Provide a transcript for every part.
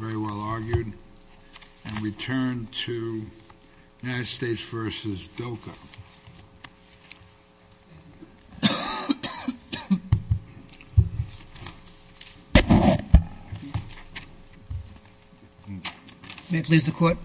May it please the court.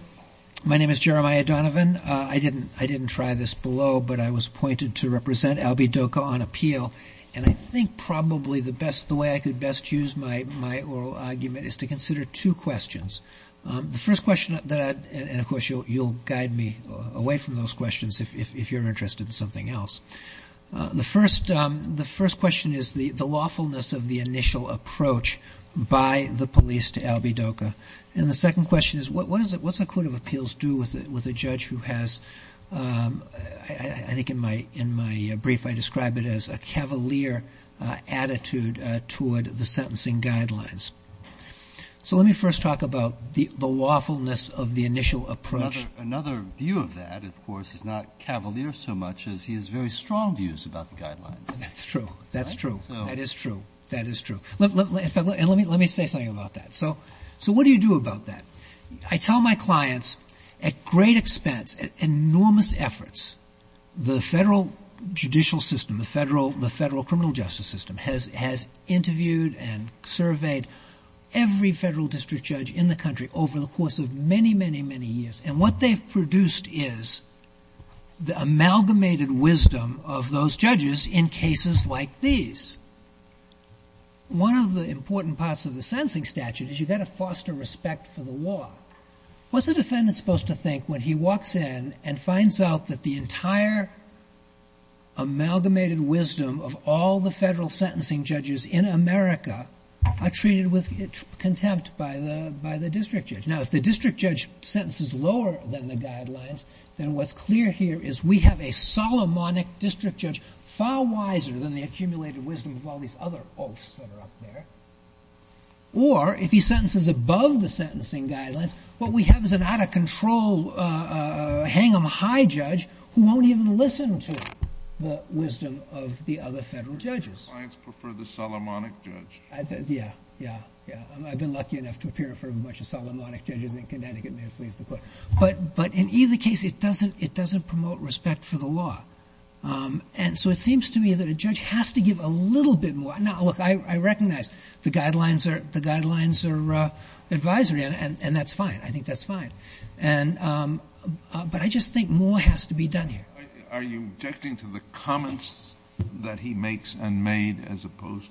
My name is Jeremiah Donovan. I didn't try this below, but I was pointed to represent Albie Doka on appeal. And I think probably the way I could best use my oral argument is to consider two questions. The first question, and of course you'll guide me away from those questions if you're interested in something else. The first question is the lawfulness of the initial approach by the police to Albie Doka. And the second question is what's a court of appeals do with a judge who has, I think in my brief I described it as a cavalier attitude toward the sentencing guidelines. So let me first talk about the lawfulness of the initial approach. Another view of that, of course, is not cavalier so much as he has very strong views about the guidelines. That's true. That's true. That is true. That is true. Let me say something about that. So what do you do about that? I tell my clients at great expense, at enormous efforts, the federal judicial system, the federal criminal justice system has interviewed and surveyed every federal district judge in the country over the course of many, many, many years. And what they've produced is the amalgamated wisdom of those judges in cases like these. One of the important parts of the sentencing statute is you've got to foster respect for the law. What's a defendant supposed to think when he walks in and finds out that the entire amalgamated wisdom of all the federal sentencing judges in America are treated with contempt by the district judge? Now, if the district judge sentences lower than the guidelines, then what's clear here is we have a Solomonic district judge far wiser than the accumulated wisdom of all these other oaths that are up there. Or if he sentences above the sentencing guidelines, what we have is an out of control hang-em-high judge who won't even listen to the wisdom of the other federal judges. Do your clients prefer the Solomonic judge? Yeah, yeah, yeah. I've been lucky enough to appear in front of a bunch of Solomonic judges in Connecticut, may it please the court. But in either case, it doesn't promote respect for the law. And so it seems to me that a judge has to give a little bit more. Now, look, I recognize the guidelines are advisory, and that's fine. I think that's fine. And but I just think more has to be done here. Are you objecting to the comments that he makes and made as opposed to...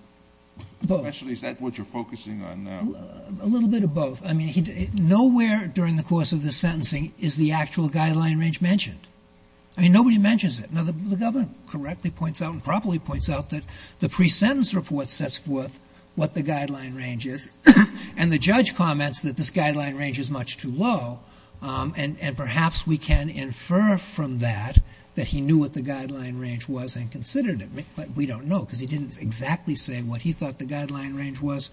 Both. Actually, is that what you're focusing on now? A little bit of both. I mean, nowhere during the course of this sentencing is the actual guideline range mentioned. I mean, nobody mentions it. Now, the government correctly points out and properly points out that the pre-sentence report sets forth what the guideline range is. And the judge comments that this guideline range is much too low. And perhaps we can infer from that that he knew what the guideline range was and considered it. But we don't know because he didn't exactly say what he thought the guideline range was.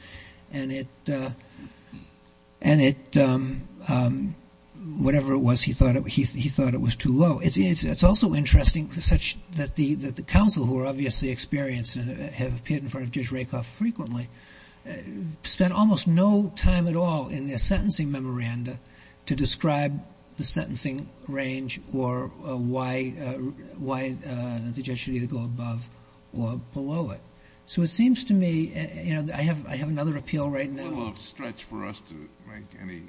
And it and it whatever it was, he thought he thought it was too low. It's also interesting such that the that the counsel who are obviously experienced and have appeared in front of Judge Rakoff frequently spent almost no time at all in their sentencing memoranda to describe the sentencing range or why why the judge should either go above or below it. So it seems to me, you know, I have I have another appeal right now. A little off stretch for us to make any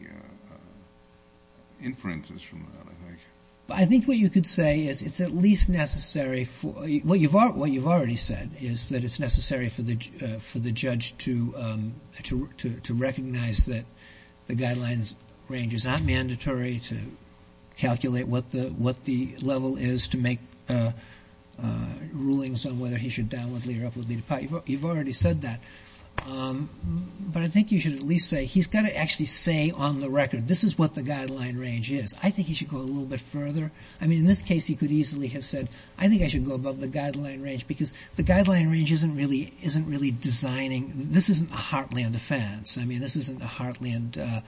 inferences from that, I think. I think what you could say is it's at least necessary for what you've what you've already said is that it's necessary for the for the judge to to to recognize that the guidelines range is not mandatory to calculate what the what the level is to make rulings on whether he should down with Lee or up with Lee. You've already said that. But I think you should at least say he's got to actually say on the record, this is what the guideline range is. I think he should go a little bit further. I mean, in this case, he could easily have said, I think I should go above the guideline range because the guideline range isn't really isn't really designing. This isn't a heartland defense. I mean, this isn't a heartland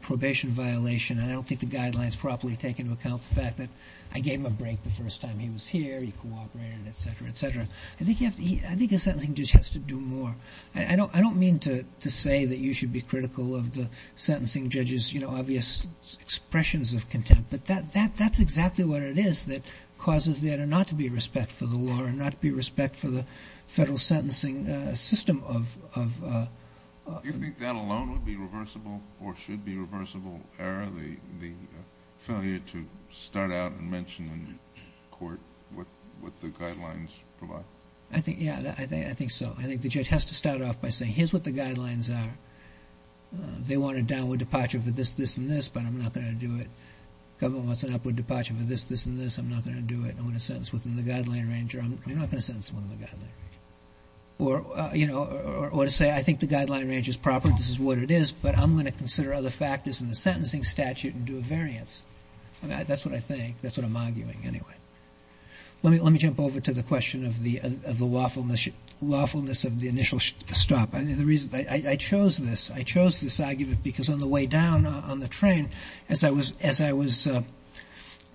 probation violation. And I don't think the guidelines properly take into account the fact that I gave him a break the first time he was here. He cooperated, etc., etc. I think you have to I think a sentencing judge has to do more. I don't I don't mean to to say that you should be critical of the sentencing judges, you know, obvious expressions of contempt, but that that that's exactly what it is that causes there to not to be respect for the law and not be respect for the federal sentencing system of of that alone would be reversible or should be reversible error, the the failure to start out and mention in court what what the guidelines provide. I think Yeah, I think I think so. I think the judge has to start off by saying here's what the guidelines are. They want a downward departure for this, this and this, but I'm not going to do it. Government wants an upward departure for this, this and this. I'm not going to do it. I'm going to sentence within the guideline range. I'm not going to sentence one of the guidelines. Or, you know, or to say, I think the guideline range is proper. This is what it is. But I'm going to consider other factors in the sentencing statute and do a variance. That's what I think. That's what I'm arguing anyway. Let me let me jump over to the question of the of the lawfulness, lawfulness of the initial stop. I mean, the reason I chose this, I chose this argument because on the way down on the train, as I was, as I was,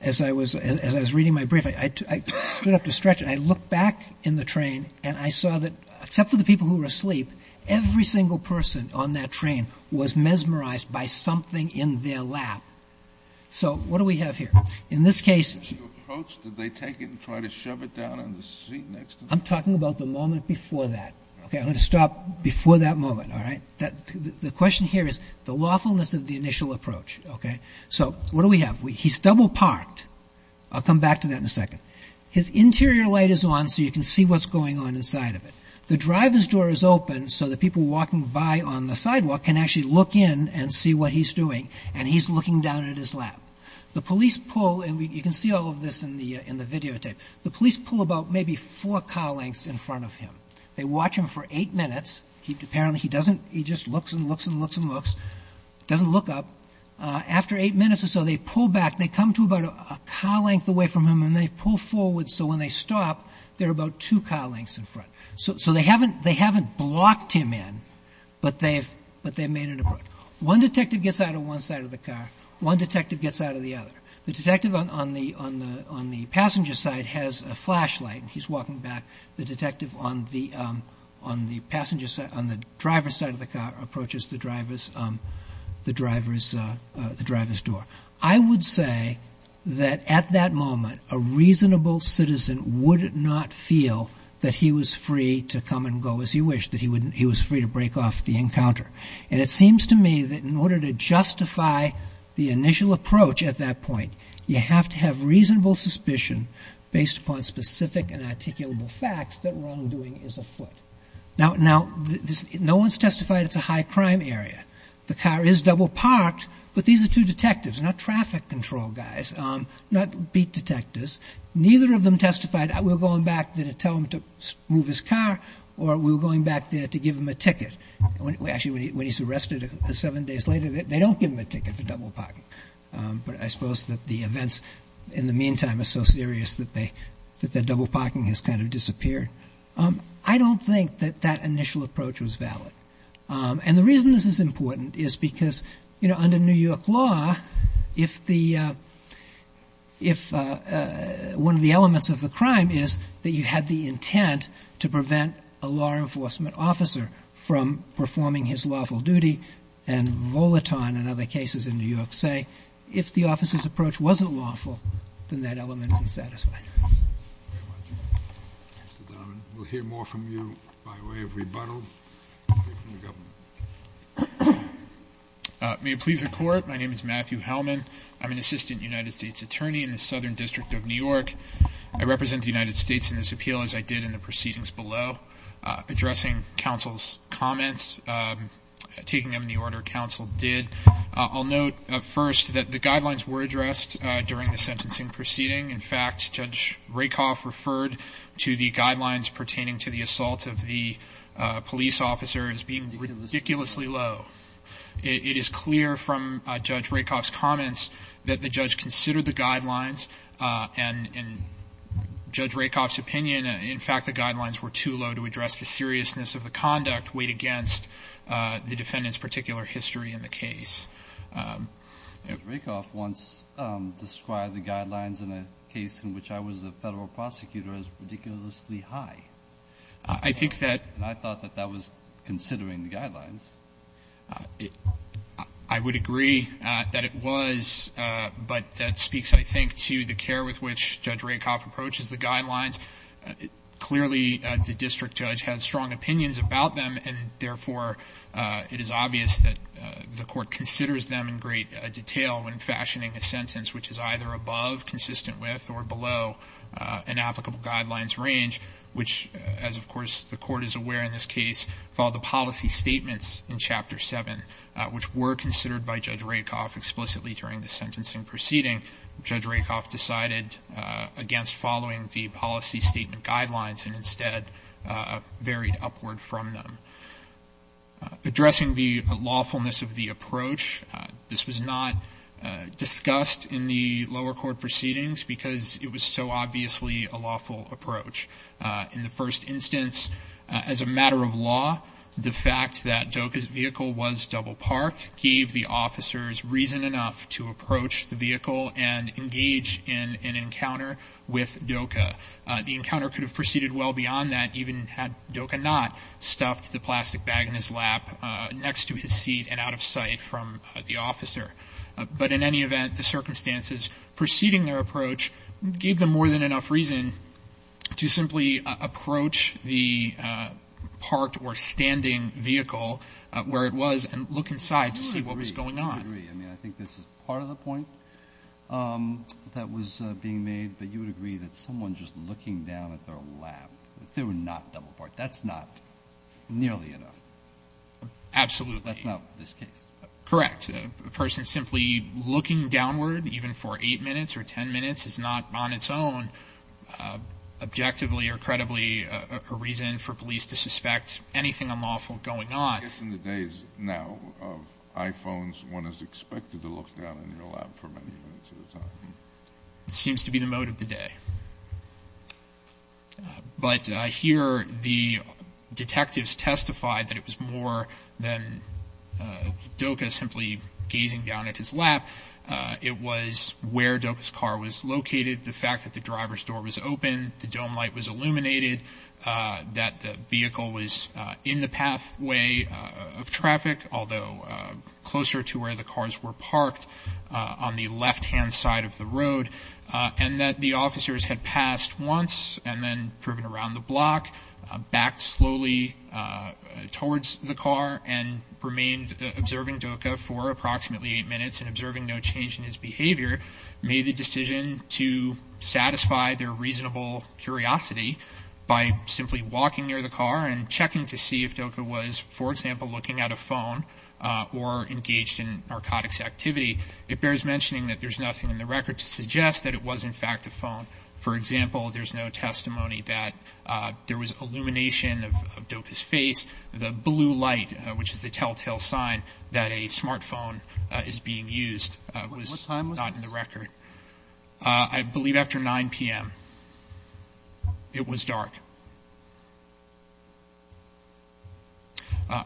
as I was, as I was reading my brief, I stood up to stretch and I looked back in the train and I saw that except for the people who were asleep, every single person on that train was mesmerized by something in their lap. So what do we have here? In this case, did they take it and try to shove it down on the I'm talking about the moment before that. OK, I'm going to stop before that moment. All right. The question here is the lawfulness of the initial approach. OK, so what do we have? He's double parked. I'll come back to that in a second. His interior light is on so you can see what's going on inside of it. The driver's door is open so that people walking by on the sidewalk can actually look in and see what he's doing. And he's looking down at his lap. The police pull and you can see all of this in the in the videotape. The police pull about maybe four car lengths in front of him. They watch him for eight minutes. He apparently he doesn't. He just looks and looks and looks and looks, doesn't look up after eight minutes or so. They pull back. They come to about a car length away from him and they pull forward. So when they stop, they're about two car lengths in front. So they haven't they haven't blocked him in. But they've but they've made it. One detective gets out of one side of the car. One detective gets out of the other. The detective on the on the passenger side has a flashlight. He's walking back. The detective on the on the passenger side on the driver's side of the car approaches the driver's the driver's the driver's door. I would say that at that moment, a reasonable citizen would not feel that he was free to come and go as he wished, that he wouldn't he was free to break off the encounter. And it seems to me that in order to justify the initial approach at that point, you have to have reasonable suspicion based upon specific and articulable facts that wrongdoing is afoot. Now, now, no one's testified. It's a high crime area. The car is double parked. But these are two detectives, not traffic control guys, not beat detectives. Neither of them testified. We're going back to tell him to move his car or we're going back there to give him a ticket. Actually, when he's arrested seven days later, they don't give him a ticket for double parking. But I suppose that the events in the meantime are so serious that they that their double parking has kind of disappeared. I don't think that that initial approach was valid. And the reason this is important is because, you know, under New York law, if the if one of the elements of the crime is that you had the intent to prevent a law enforcement officer from performing his lawful duty, and Volaton and other cases in New York say, if the officer's approach wasn't lawful, then that element is unsatisfied. Mr. Donovan, we'll hear more from you by way of rebuttal. May it please the Court. My name is Matthew Hellman. I'm an assistant United States attorney in the Southern District of New York. I represent the United States in this appeal, as I did in the proceedings below, addressing counsel's comments, taking them in the order counsel did. I'll note first that the guidelines were addressed during the sentencing proceeding. In fact, Judge Rakoff referred to the guidelines pertaining to the assault of the police officer as being ridiculously low. It is clear from Judge Rakoff's comments that the judge considered the guidelines, and in Judge Rakoff's opinion, in fact, the guidelines were too low to address the seriousness of the conduct weighed against the defendant's particular history in the case. Judge Rakoff once described the guidelines in a case in which I was a federal prosecutor as ridiculously high. I think that And I thought that that was considering the guidelines. I would agree that it was, but that speaks, I think, to the care with which Judge Rakoff approaches the guidelines. Clearly, the district judge has strong opinions about them, and therefore it is obvious that the Court considers them in great detail when fashioning a sentence which is either above consistent with or below an applicable guidelines range, which, as of course, the Court is aware in this case, follow the policy statements in Chapter 7, which were considered by Judge Rakoff explicitly during the sentencing proceeding. Judge Rakoff decided against following the policy statement guidelines and instead varied upward from them. Addressing the lawfulness of the approach, this was not discussed in the lower court proceedings because it was so obviously a lawful approach. In the first instance, as a matter of law, the fact that Doka's vehicle was double parked gave the officers reason enough to approach the vehicle and engage in an encounter with Doka. The encounter could have proceeded well beyond that even had Doka not stuffed the plastic bag in his lap next to his seat and out of sight from the officer. But in any event, the circumstances preceding their approach gave them more than enough reason to simply approach the parked or standing vehicle where it was and look inside to see what was going on. I think this is part of the point that was being made, but you would agree that someone just looking down at their lap, if they were not double parked, that's not nearly enough. Absolutely. That's not this case. Correct. A person simply looking downward, even for eight minutes or ten minutes, is not on its own, objectively or credibly, a reason for police to suspect anything unlawful going on. I guess in the days now of iPhones, one is expected to look down in your lap for many minutes at a time. It seems to be the mode of the day. But here, the detectives testified that it was more than Doka simply gazing down at his lap. It was where Doka's car was located, the fact that the driver's door was open, the dome light was illuminated, that the vehicle was in the pathway of traffic, although closer to where the cars were parked on the left-hand side of the road, and that the officer's had passed once and then driven around the block, backed slowly towards the car and remained observing Doka for approximately eight minutes and observing no change in his behavior, made the decision to satisfy their reasonable curiosity by simply walking near the car and checking to see if Doka was, for example, looking at a phone or engaged in narcotics activity. It bears mentioning that there's nothing in the record to suggest that it was in fact a phone. For example, there's no testimony that there was illumination of Doka's face. The blue light, which is the telltale sign that a smartphone is being used, was not in the record. What time was this? I believe after 9 p.m. It was dark.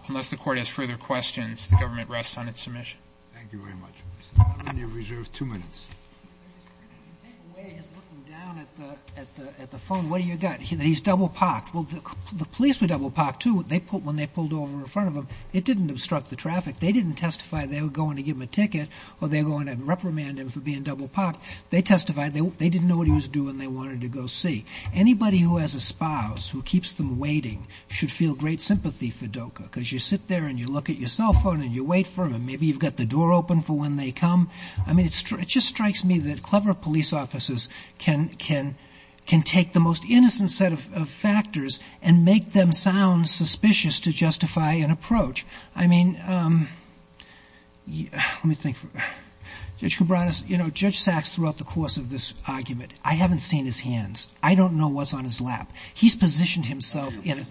Unless the Court has further questions, the government rests on its submission. Thank you very much. Mr. Mulroney, you're reserved two minutes. Take away his looking down at the phone. What do you got? He's double-pocked. Well, the police were double-pocked, too. When they pulled over in front of him, it didn't obstruct the traffic. They didn't testify they were going to give him a ticket or they were going to reprimand him for being double-pocked. They testified they didn't know what he was doing. They wanted to go see. Anybody who has a spouse who keeps them waiting should feel great sympathy for Doka because you sit there and you look at your cell phone and you wait for them. Maybe you've got the door open for when they come. I mean, it just strikes me that clever police officers can take the most innocent set of factors and make them sound suspicious to justify an approach. I mean, let me think. Judge Kubranas, you know, Judge Sachs throughout the course of this argument, I haven't seen his hands. I don't know what's on his lap. He's positioned himself in a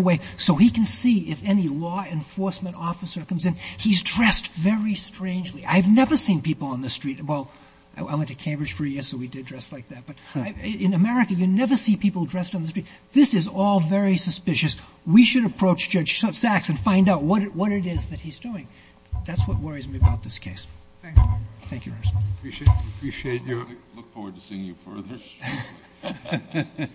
way so he can see if any law enforcement officers are coming in. He's dressed very strangely. I've never seen people on the street. Well, I went to Cambridge for a year, so we did dress like that. But in America, you never see people dressed on the street. This is all very suspicious. We should approach Judge Sachs and find out what it is that he's doing. That's what worries me about this case. Thank you. Thank you, Your Honor. I appreciate you. I look forward to seeing you further. Thank you. Thank you.